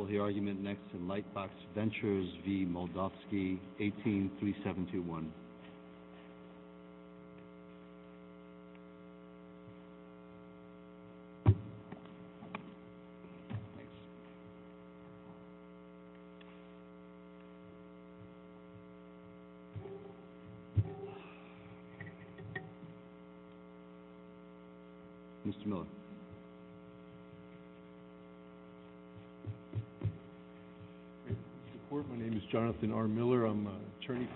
Will the argument next in Lightbox Ventures v. Moldovsky, 18-3721. Mr. R. Miller, my name is Jonathan R. Miller, I'm an attorney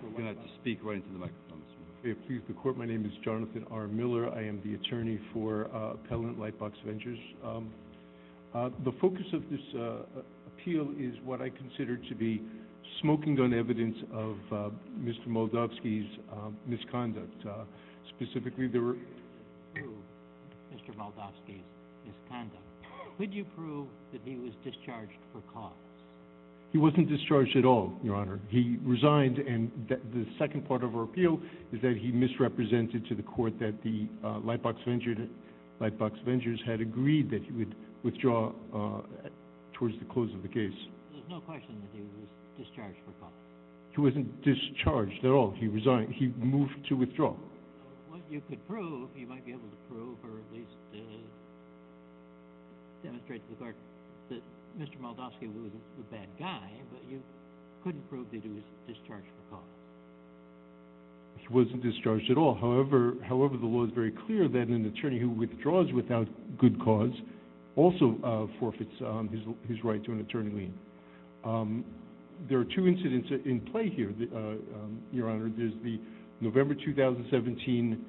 for Lightbox Ventures, I'm The focus of this appeal is what I consider to be smoking gun evidence of Mr. Moldovsky's misconduct. Specifically, there were... Could you prove Mr. Moldovsky's misconduct? Could you prove that he was discharged for cause? He wasn't discharged at all, Your Honor. He resigned and the second part of our appeal is that he misrepresented to the court that the Lightbox Ventures had agreed that he would withdraw towards the close of the case. There's no question that he was discharged for cause. He wasn't discharged at all. He resigned. He moved to withdraw. What you could prove, you might be able to prove or at least demonstrate to the court that Mr. Moldovsky was a bad guy, but you couldn't prove that he was discharged for cause. He wasn't discharged at all. However, the law is very clear that an attorney who withdraws without good cause also forfeits his right to an attorney lien. There are two incidents in play here, Your Honor. There's the November 2017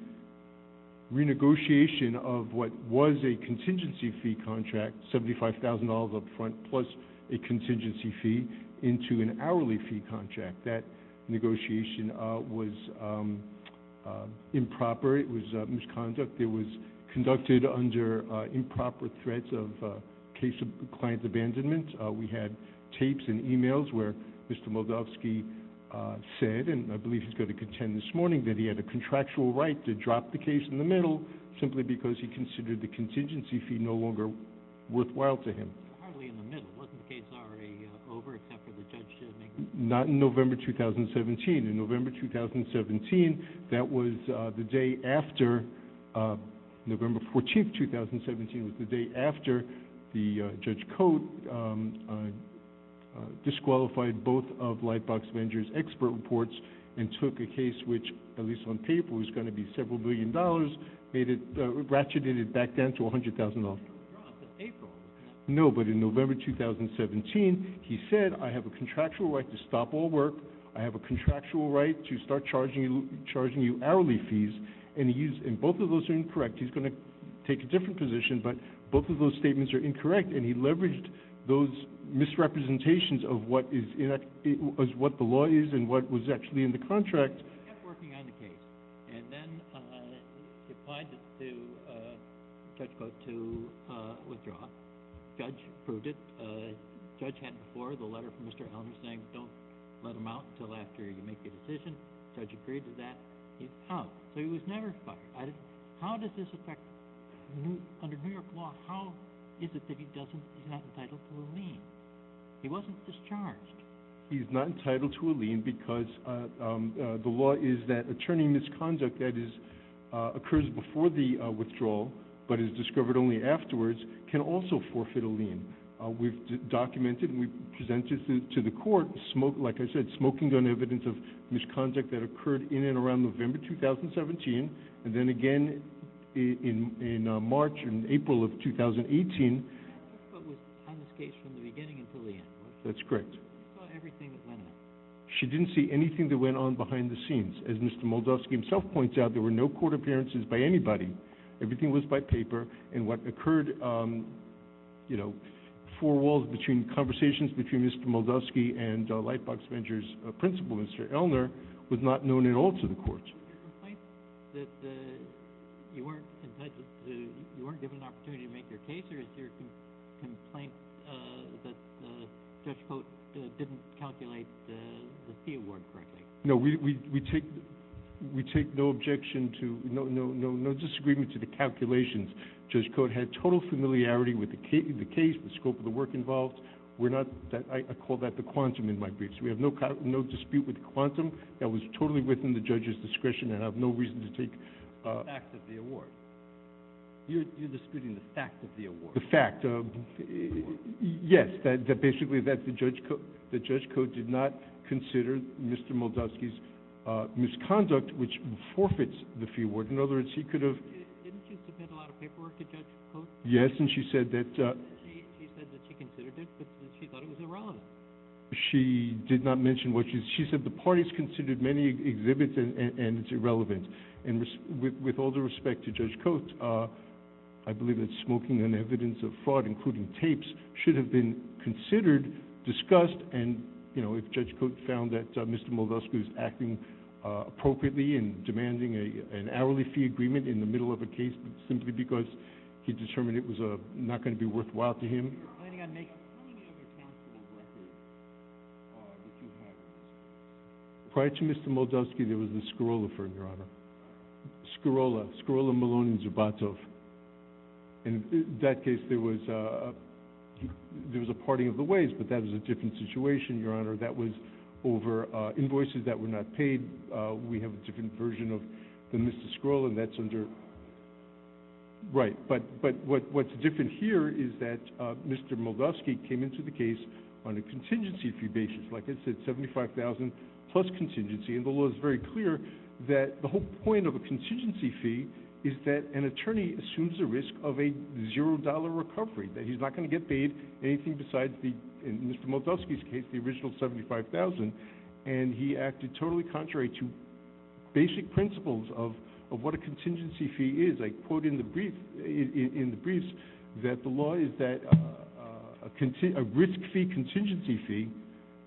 renegotiation of what was a contingency fee contract, $75,000 up front, plus a contingency fee into an hourly fee contract. That negotiation was improper. It was misconduct. It was conducted under improper threats of case of client abandonment. We had tapes and e-mails where Mr. Moldovsky said, and I believe he's going to contend this morning, that he had a contractual right to drop the case in the middle simply because he considered the contingency fee no longer worthwhile to him. Hardly in the middle. Wasn't the case already over except for the judge to make the decision? Not in November 2017. In November 2017, that was the day after, November 14, 2017 was the day after the judge Cote disqualified both of Lightbox Vengers' expert reports and took a case which, at least on paper, was going to be several billion dollars, ratcheted it back down to $100,000. No, but in November 2017, he said, I have a contractual right to stop all work. I have a contractual right to start charging you hourly fees, and both of those are incorrect. He's going to take a different position, but both of those statements are incorrect, and he leveraged those misrepresentations of what the law is and what was actually in the contract. He kept working on the case, and then he applied to Judge Cote to withdraw. The judge approved it. The judge had before the letter from Mr. Elmer saying don't let him out until after you make a decision. The judge agreed to that. He's out. So he was never fired. How does this affect under New York law? How is it that he's not entitled to a lien? He wasn't discharged. He's not entitled to a lien because the law is that attorney misconduct that occurs before the withdrawal but is discovered only afterwards can also forfeit a lien. We've documented and we've presented to the court, like I said, smoking gun evidence of misconduct that occurred in and around November 2017, and then again in March and April of 2018. But it was on this case from the beginning until the end, right? That's correct. What about everything that went on? She didn't see anything that went on behind the scenes. As Mr. Moldovsky himself points out, there were no court appearances by anybody. Everything was by paper. And what occurred, you know, four walls between conversations between Mr. Moldovsky and Lightbox Ventures principal, Mr. Elmer, was not known at all to the courts. Did you complain that you weren't given an opportunity to make your case or is your complaint that Judge Coates didn't calculate the fee award correctly? No, we take no objection to, no disagreement to the calculations. Judge Coates had total familiarity with the case, the scope of the work involved. I call that the quantum in my briefs. We have no dispute with the quantum. That was totally within the judge's discretion and I have no reason to take— The fact of the award. You're disputing the fact of the award. The fact. Yes, basically that Judge Coates did not consider Mr. Moldovsky's misconduct, which forfeits the fee award. In other words, he could have— Didn't she submit a lot of paperwork to Judge Coates? Yes, and she said that— She said that she considered it but that she thought it was irrelevant. She did not mention what she— She said the parties considered many exhibits and it's irrelevant. And with all due respect to Judge Coates, I believe that smoking and evidence of fraud, including tapes, should have been considered, discussed, and if Judge Coates found that Mr. Moldovsky was acting appropriately and demanding an hourly fee agreement in the middle of a case simply because he determined it was not going to be worthwhile to him— You're planning on making a 20-day recount. What fee award did you have? Prior to Mr. Moldovsky, there was the Skorola firm, Your Honor. Skorola, Skorola, Maloney, and Zubatov. In that case, there was a parting of the ways, but that was a different situation, Your Honor. That was over invoices that were not paid. We have a different version of the Mr. Skorola, and that's under— Right, but what's different here is that Mr. Moldovsky came into the case on a contingency probation. Like I said, $75,000 plus contingency, and the law is very clear that the whole point of a contingency fee is that an attorney assumes a risk of a $0 recovery, that he's not going to get paid anything besides, in Mr. Moldovsky's case, the original $75,000, and he acted totally contrary to basic principles of what a contingency fee is. I quote in the briefs that the law is that a risk fee contingency fee,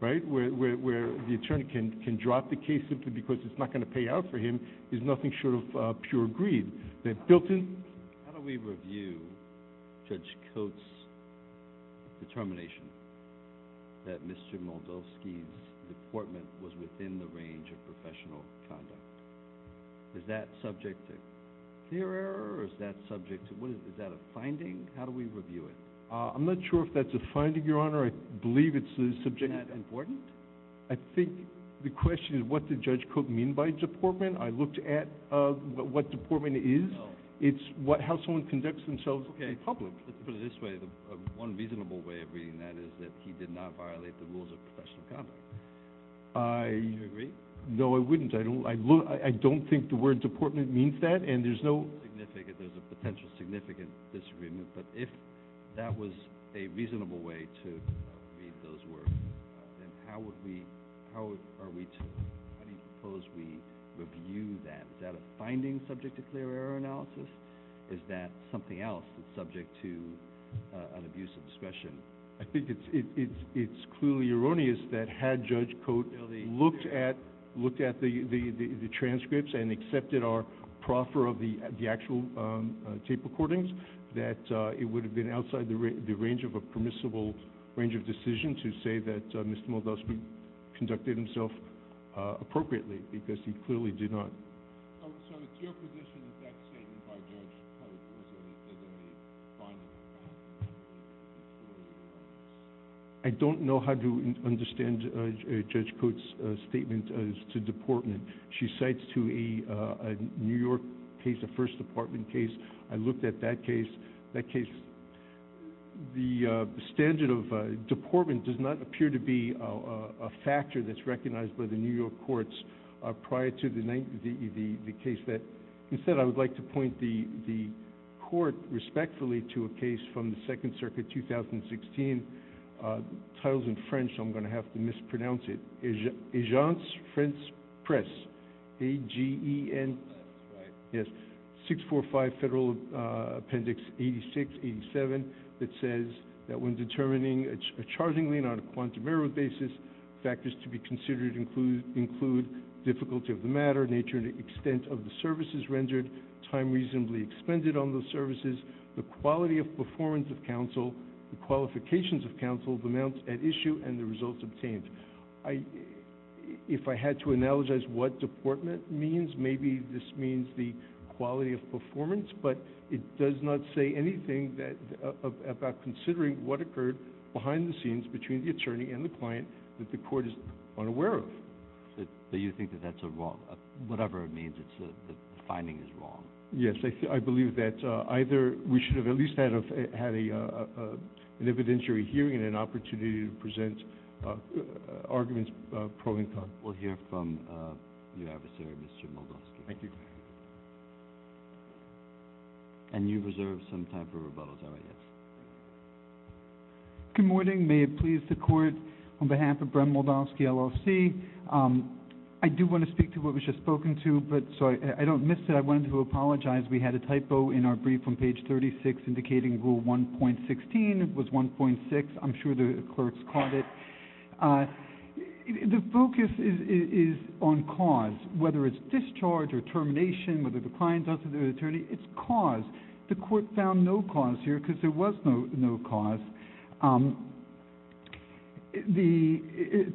where the attorney can drop the case simply because it's not going to pay out for him, is nothing short of pure greed. How do we review Judge Coates' determination that Mr. Moldovsky's deportment was within the range of professional conduct? Is that subject to clear error, or is that a finding? How do we review it? I'm not sure if that's a finding, Your Honor. I believe it's the subject of— Isn't that important? I think the question is what did Judge Coates mean by deportment. I looked at what deportment is. It's how someone conducts themselves in public. Let's put it this way. One reasonable way of reading that is that he did not violate the rules of professional conduct. Do you agree? No, I wouldn't. I don't think the word deportment means that, and there's no— There's a potential significant disagreement, but if that was a reasonable way to read those words, then how are we to—how do you propose we review that? Is that a finding subject to clear error analysis? Is that something else that's subject to an abuse of discretion? I think it's clearly erroneous that had Judge Coates looked at the transcripts and accepted our proffer of the actual tape recordings, that it would have been outside the range of a permissible range of decision to say that Mr. Moldavsky conducted himself appropriately because he clearly did not. So it's your position that that statement by Judge Coates wasn't a finding? I don't know how to understand Judge Coates' statement as to deportment. She cites to a New York case, a First Department case. I looked at that case. The standard of deportment does not appear to be a factor that's recognized by the New York courts prior to the case. Instead, I would like to point the court respectfully to a case from the Second Circuit, 2016. The title's in French, so I'm going to have to mispronounce it. Agence France-Presse, 645 Federal Appendix 86-87, that says that when determining a charging lien on a quantum error basis, factors to be considered include difficulty of the matter, nature and extent of the services rendered, time reasonably expended on those services, the quality of performance of counsel, the qualifications of counsel, the amount at issue, and the results obtained. If I had to analogize what deportment means, maybe this means the quality of performance, but it does not say anything about considering what occurred behind the scenes between the attorney and the client that the court is unaware of. So you think that that's a wrong, whatever it means, the finding is wrong? Yes, I believe that either we should have at least had an evidentiary hearing and an opportunity to present arguments pro and con. We'll hear from your adversary, Mr. Moldavsky. Thank you. And you reserve some time for rebuttals. All right, yes. Good morning. May it please the Court, on behalf of Bren Moldavsky, LLC, I do want to speak to what was just spoken to, but so I don't miss it. I wanted to apologize. We had a typo in our brief on page 36 indicating Rule 1.16 was 1.6. I'm sure the clerks caught it. The focus is on cause, whether it's discharge or termination, whether the client does it or the attorney, it's cause. The Court found no cause here because there was no cause. The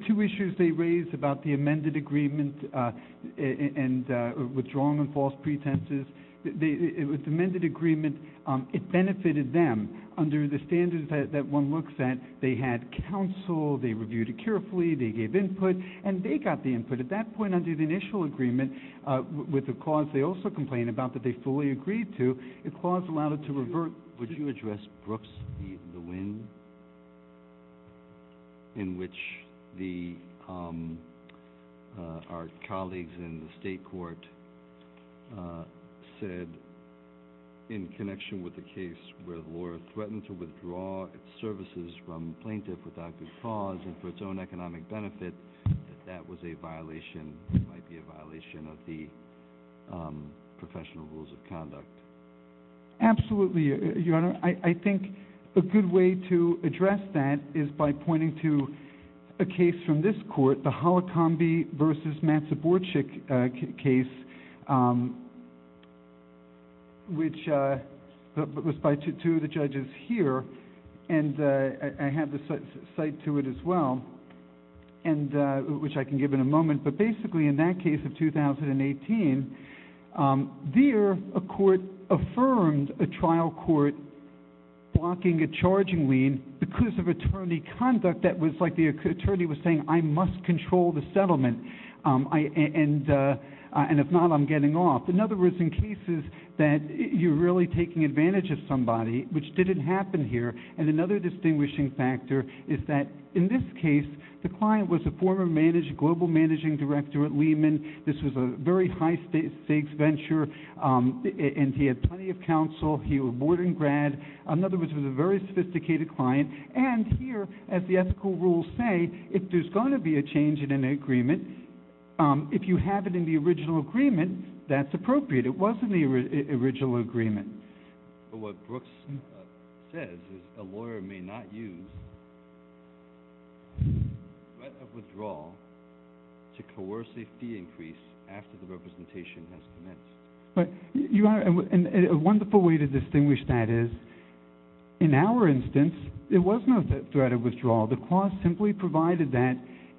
two issues they raised about the amended agreement and withdrawing on false pretenses, the amended agreement, it benefited them under the standards that one looks at. They had counsel. They reviewed it carefully. They gave input, and they got the input. At that point, under the initial agreement with the cause, they also complained about that they fully agreed to. If cause allowed it to revert... Would you address Brooks v. Lewin, in which our colleagues in the State Court said, in connection with the case where the lawyer threatened to withdraw its services from plaintiff without good cause and for its own economic benefit, that that was a violation, that it might be a violation of the professional rules of conduct? Absolutely, Your Honor. I think a good way to address that is by pointing to a case from this court, the Holocombi v. Matsuborchik case, which was brought to the judges here. I have the site to it as well, which I can give in a moment. But basically, in that case of 2018, there a court affirmed a trial court blocking a charging lien because of attorney conduct that was like the attorney was saying, I must control the settlement, and if not, I'm getting off. In other words, in cases that you're really taking advantage of somebody, which didn't happen here, and another distinguishing factor is that, in this case, the client was a former global managing director at Lehman. This was a very high-stakes venture, and he had plenty of counsel. He was a boarding grad. In other words, he was a very sophisticated client. And here, as the ethical rules say, if there's going to be a change in an agreement, if you have it in the original agreement, that's appropriate. It was in the original agreement. But what Brooks says is a lawyer may not use threat of withdrawal to coerce a fee increase after the representation has commenced. A wonderful way to distinguish that is, in our instance, there was no threat of withdrawal. The clause simply provided that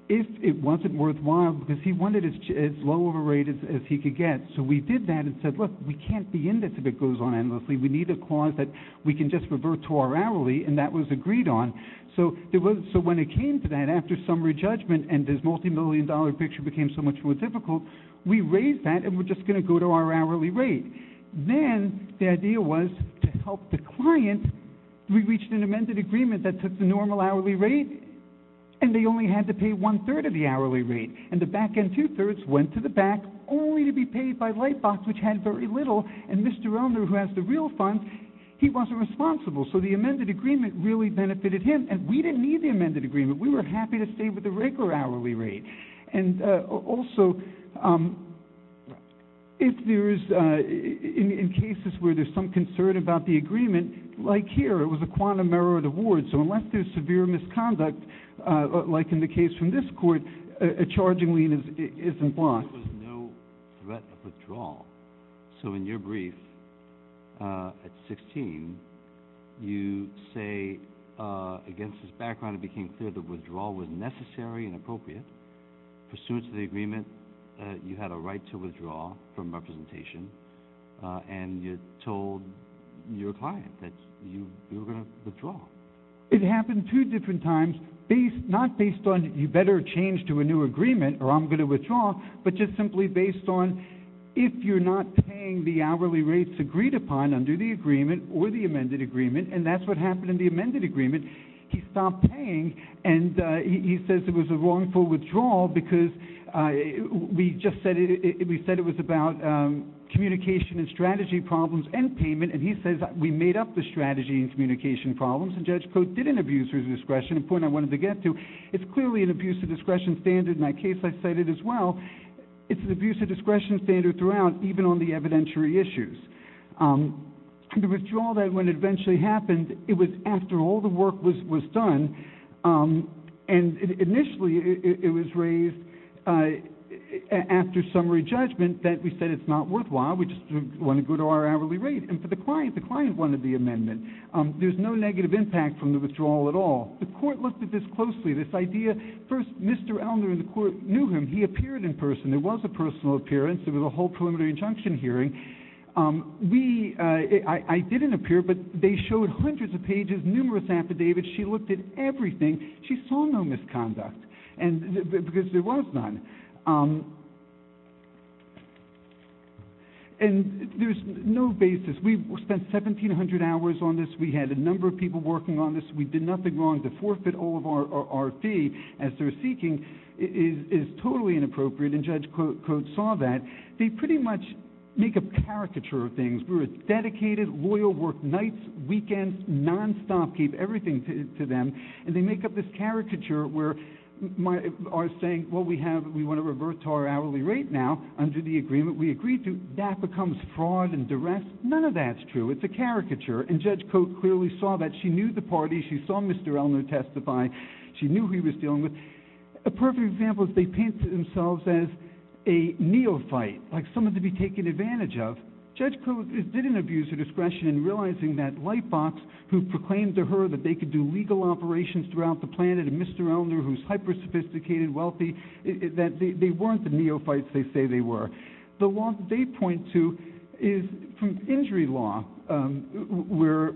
if it wasn't worthwhile, because he wanted as low of a rate as he could get. So we did that and said, look, we can't be in this if it goes on endlessly. We need a clause that we can just revert to our hourly, and that was agreed on. So when it came to that, after summary judgment and this multimillion-dollar picture became so much more difficult, we raised that, and we're just going to go to our hourly rate. Then the idea was to help the client. We reached an amended agreement that took the normal hourly rate, and they only had to pay one-third of the hourly rate. And the back-end two-thirds went to the back only to be paid by Lightbox, which had very little, and Mr. Elner, who has the real funds, he wasn't responsible. So the amended agreement really benefited him, and we didn't need the amended agreement. We were happy to stay with the regular hourly rate. And also, if there is, in cases where there's some concern about the agreement, like here, it was a quantum error of the ward. So unless there's severe misconduct, like in the case from this court, a charging lien is in flux. There was no threat of withdrawal. So in your brief at 16, you say, against this background, it became clear that withdrawal was necessary and appropriate. Pursuant to the agreement, you had a right to withdraw from representation, and you told your client that you were going to withdraw. It happened two different times, not based on you better change to a new agreement or I'm going to withdraw, but just simply based on if you're not paying the hourly rates agreed upon under the agreement or the amended agreement, and that's what happened in the amended agreement. He stopped paying, and he says it was a wrongful withdrawal because we said it was about communication and strategy problems and payment, and he says we made up the strategy and communication problems, and Judge Coates did an abuser's discretion, a point I wanted to get to. It's clearly an abuser's discretion standard in that case I cited as well. It's an abuser's discretion standard throughout, even on the evidentiary issues. The withdrawal then, when it eventually happened, it was after all the work was done, and initially it was raised after summary judgment that we said it's not worthwhile, we just want to go to our hourly rate. And for the client, the client wanted the amendment. There's no negative impact from the withdrawal at all. The court looked at this closely, this idea. First, Mr. Elner and the court knew him. He appeared in person. There was a personal appearance. There was a whole preliminary injunction hearing. I didn't appear, but they showed hundreds of pages, numerous affidavits. She looked at everything. She saw no misconduct because there was none. And there's no basis. We spent 1,700 hours on this. We had a number of people working on this. We did nothing wrong. To forfeit all of our fee as they're seeking is totally inappropriate, and Judge Coates saw that. They pretty much make a caricature of things. We were dedicated, loyal work nights, weekends, nonstop, gave everything to them, and they make up this caricature where are saying, well, we want to revert to our hourly rate now under the agreement we agreed to. That becomes fraud and duress. None of that's true. It's a caricature, and Judge Coates clearly saw that. She knew the party. She saw Mr. Elner testify. She knew who he was dealing with. A perfect example is they painted themselves as a neophyte, like someone to be taken advantage of. Judge Coates didn't abuse her discretion in realizing that Lightbox, who proclaimed to her that they could do legal operations throughout the planet and Mr. Elner, who's hyper-sophisticated, wealthy, that they weren't the neophytes they say they were. The law that they point to is injury law where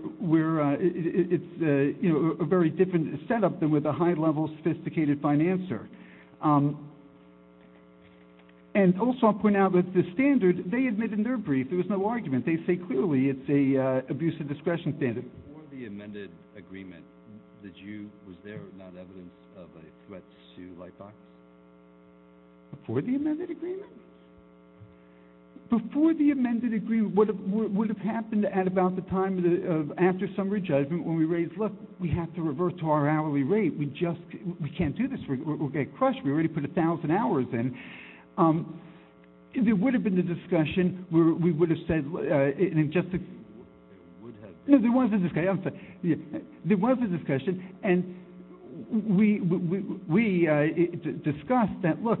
it's a very different setup than with a high-level, sophisticated financer. And also I'll point out that the standard they admit in their brief, there was no argument. They say clearly it's an abuse of discretion standard. Before the amended agreement, was there not evidence of a threat to Lightbox? Before the amended agreement? Before the amended agreement, what would have happened at about the time of after summary judgment when we raised, look, we have to revert to our hourly rate. We just can't do this. We'll get crushed. We already put 1,000 hours in. There would have been a discussion. We would have said in just the case. There was a discussion. And we discussed that, look,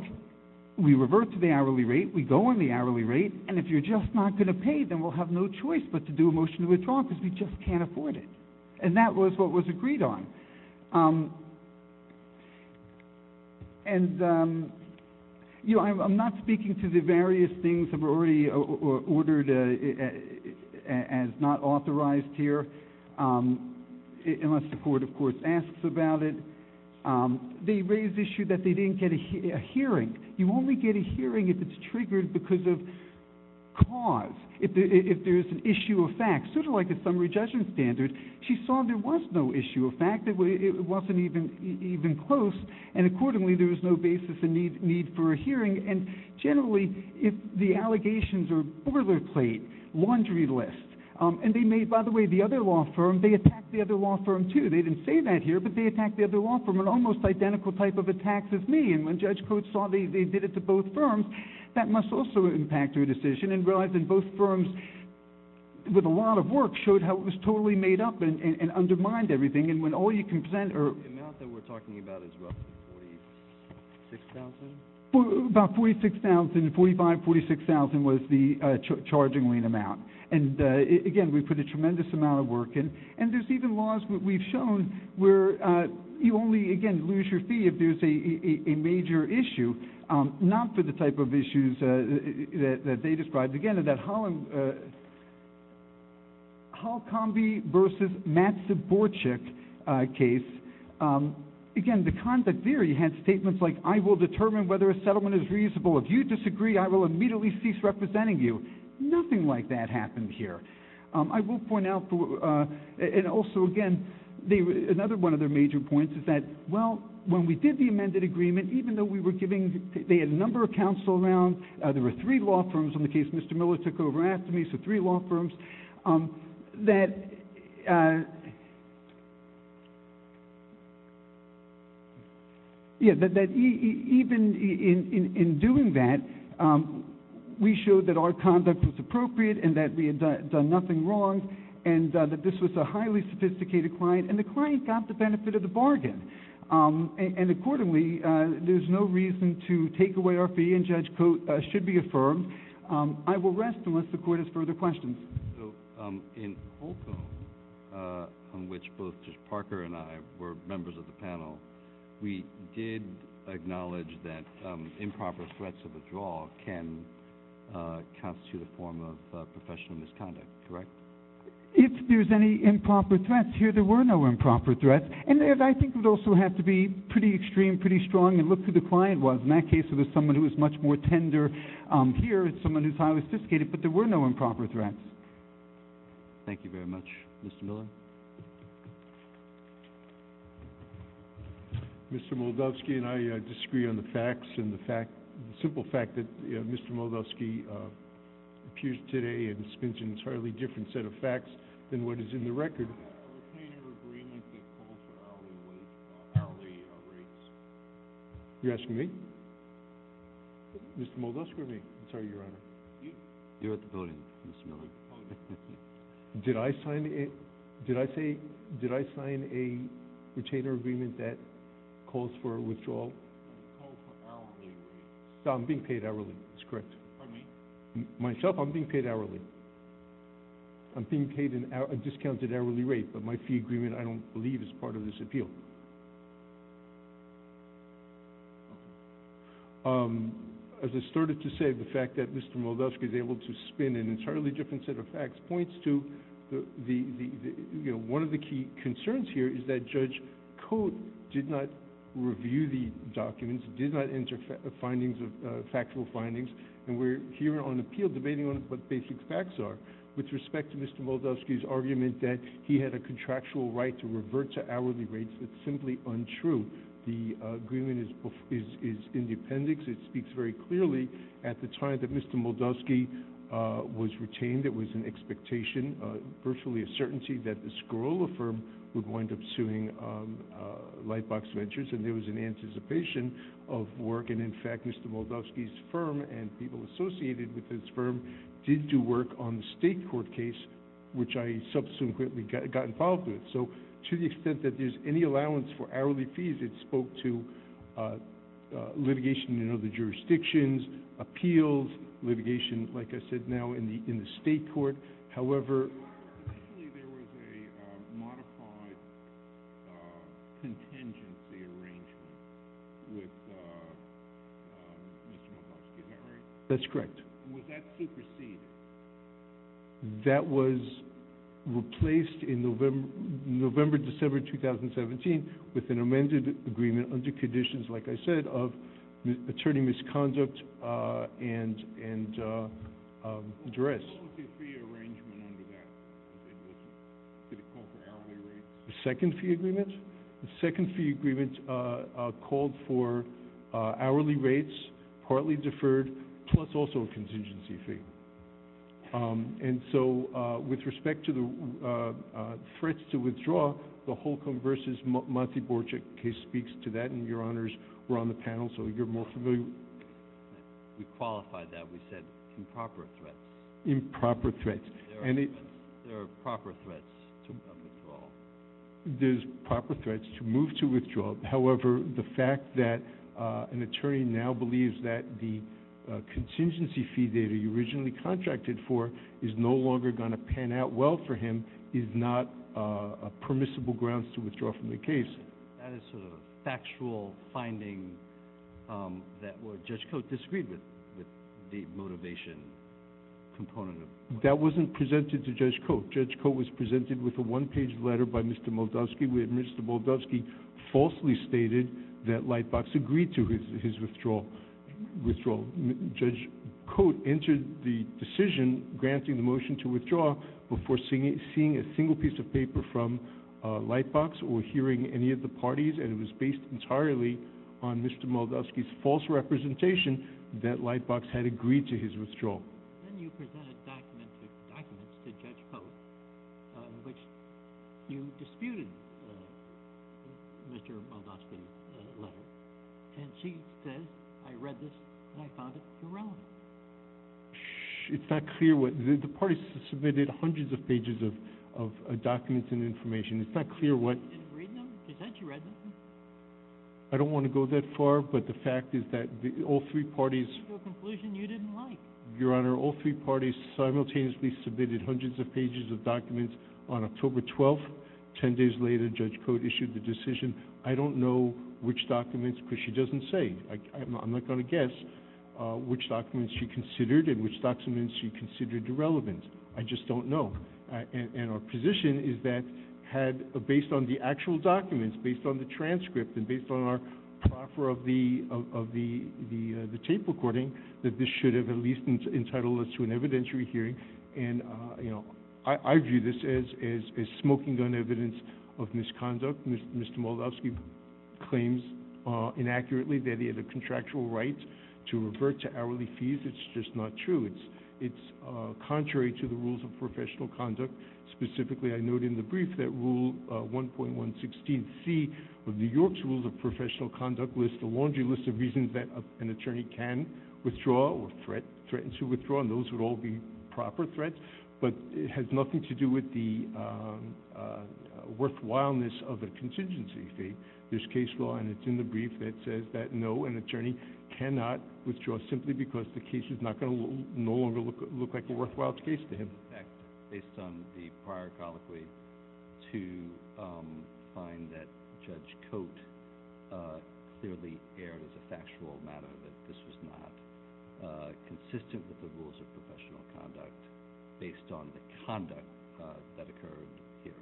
we revert to the hourly rate. We go on the hourly rate. And if you're just not going to pay, then we'll have no choice but to do a motion to withdraw because we just can't afford it. And that was what was agreed on. And, you know, I'm not speaking to the various things that were already ordered as not authorized here, unless the court, of course, asks about it. They raised the issue that they didn't get a hearing. You only get a hearing if it's triggered because of cause. If there's an issue of fact, sort of like a summary judgment standard, she saw there was no issue of fact. It wasn't even close. And accordingly, there was no basis in need for a hearing. And generally, if the allegations are boilerplate, laundry list, and they may, by the way, the other law firm, they attacked the other law firm, too. They didn't say that here, but they attacked the other law firm in almost identical type of attacks as me. And when Judge Coates saw they did it to both firms, that must also impact her decision. And both firms, with a lot of work, showed how it was totally made up and undermined everything. And when all you can present are – The amount that we're talking about is roughly $46,000? About $46,000. $45,000, $46,000 was the charging lien amount. And, again, we put a tremendous amount of work in. And there's even laws that we've shown where you only, again, lose your fee if there's a major issue, not for the type of issues that they described. Again, that Hall-Combie v. Matsuborchik case, again, the conduct there, she had statements like, I will determine whether a settlement is reasonable. If you disagree, I will immediately cease representing you. Nothing like that happened here. I will point out, and also, again, another one of their major points is that, well, when we did the amended agreement, even though we were giving – they had a number of counsel around. There were three law firms on the case. Mr. Miller took over and asked me, so three law firms. That – yeah, that even in doing that, we showed that our conduct was appropriate and that we had done nothing wrong and that this was a highly sophisticated client, and the client got the benefit of the bargain. And, accordingly, there's no reason to take away our fee, and Judge Cote should be affirmed. I will rest unless the Court has further questions. So in Holcomb, on which both Judge Parker and I were members of the panel, we did acknowledge that improper threats of withdrawal can constitute a form of professional misconduct, correct? If there's any improper threats here, there were no improper threats. And I think it would also have to be pretty extreme, pretty strong, and look who the client was. In that case, it was someone who was much more tender. Here, it's someone who's highly sophisticated, but there were no improper threats. Thank you very much. Mr. Miller. Mr. Moldovsky and I disagree on the facts and the fact – the simple fact that Mr. Moldovsky appears today and dispenses an entirely different set of facts than what is in the record. You're asking me? Mr. Moldovsky or me? I'm sorry, Your Honor. You're at the podium, Mr. Miller. Did I sign a – did I say – did I sign a retainer agreement that calls for a withdrawal? No, I'm being paid hourly. That's correct. Pardon me? Myself, I'm being paid hourly. I'm being paid a discounted hourly rate, but my fee agreement I don't believe is part of this appeal. As I started to say, the fact that Mr. Moldovsky is able to spin an entirely different set of facts points to the – one of the key concerns here is that Judge Cote did not review the documents, did not enter findings of – factual findings, and we're here on appeal debating on what the basic facts are. With respect to Mr. Moldovsky's argument that he had a contractual right to revert to hourly rates, it's simply untrue. The agreement is independent. It speaks very clearly. At the time that Mr. Moldovsky was retained, it was an expectation, virtually a certainty, that the Scarola firm would wind up suing Lightbox Ventures, and there was an anticipation of work. And, in fact, Mr. Moldovsky's firm and people associated with his firm did do work on the state court case, which I subsequently got involved with. So to the extent that there's any allowance for hourly fees, it spoke to litigation in other jurisdictions, appeals, litigation, like I said, now in the state court. There was a modified contingency arrangement with Mr. Moldovsky, is that right? That's correct. Was that superseded? That was replaced in November, December 2017 with an amended agreement under conditions, like I said, of attorney misconduct and duress. Was there a contingency fee arrangement under that? Did it call for hourly rates? The second fee agreement? The second fee agreement called for hourly rates, partly deferred, plus also a contingency fee. And so with respect to the threats to withdraw, the Holcomb v. Monty Borchek case speaks to that, and your honors were on the panel, so you're more familiar. We qualified that. We said improper threats. Improper threats. There are proper threats to withdrawal. There's proper threats to move to withdrawal. However, the fact that an attorney now believes that the contingency fee data you originally contracted for is no longer going to pan out well for him is not permissible grounds to withdraw from the case. That is sort of a factual finding that Judge Cote disagreed with, with the motivation component. That wasn't presented to Judge Cote. Judge Cote was presented with a one-page letter by Mr. Moldovsky where Mr. Moldovsky falsely stated that Lightbox agreed to his withdrawal. Judge Cote entered the decision granting the motion to withdraw before seeing a single piece of paper from Lightbox or hearing any of the parties, and it was based entirely on Mr. Moldovsky's false representation that Lightbox had agreed to his withdrawal. Then you presented documents to Judge Cote in which you disputed Mr. Moldovsky's letter, and she says, I read this and I found it irrelevant. It's not clear what—the parties submitted hundreds of pages of documents and information. It's not clear what— You didn't read them? You said you read them. I don't want to go that far, but the fact is that all three parties— It's a conclusion you didn't like. Your Honor, all three parties simultaneously submitted hundreds of pages of documents. On October 12, 10 days later, Judge Cote issued the decision. I don't know which documents, because she doesn't say. I'm not going to guess which documents she considered and which documents she considered irrelevant. I just don't know, and our position is that based on the actual documents, based on the transcript and based on our proffer of the tape recording, that this should have at least entitled us to an evidentiary hearing, and I view this as smoking gun evidence of misconduct. Mr. Moldavsky claims inaccurately that he had a contractual right to revert to hourly fees. It's just not true. It's contrary to the rules of professional conduct. Specifically, I note in the brief that Rule 1.116C of New York's Rules of Professional Conduct lists a laundry list of reasons that an attorney can withdraw or threaten to withdraw, and those would all be proper threats, but it has nothing to do with the worthwhileness of a contingency fee. There's case law, and it's in the brief that says that no, an attorney cannot withdraw simply because the case is not going to no longer look like a worthwhile case to him. In fact, based on the prior colloquy, to find that Judge Cote clearly erred as a factual matter, that this was not consistent with the rules of professional conduct based on the conduct that occurred here.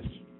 Yes.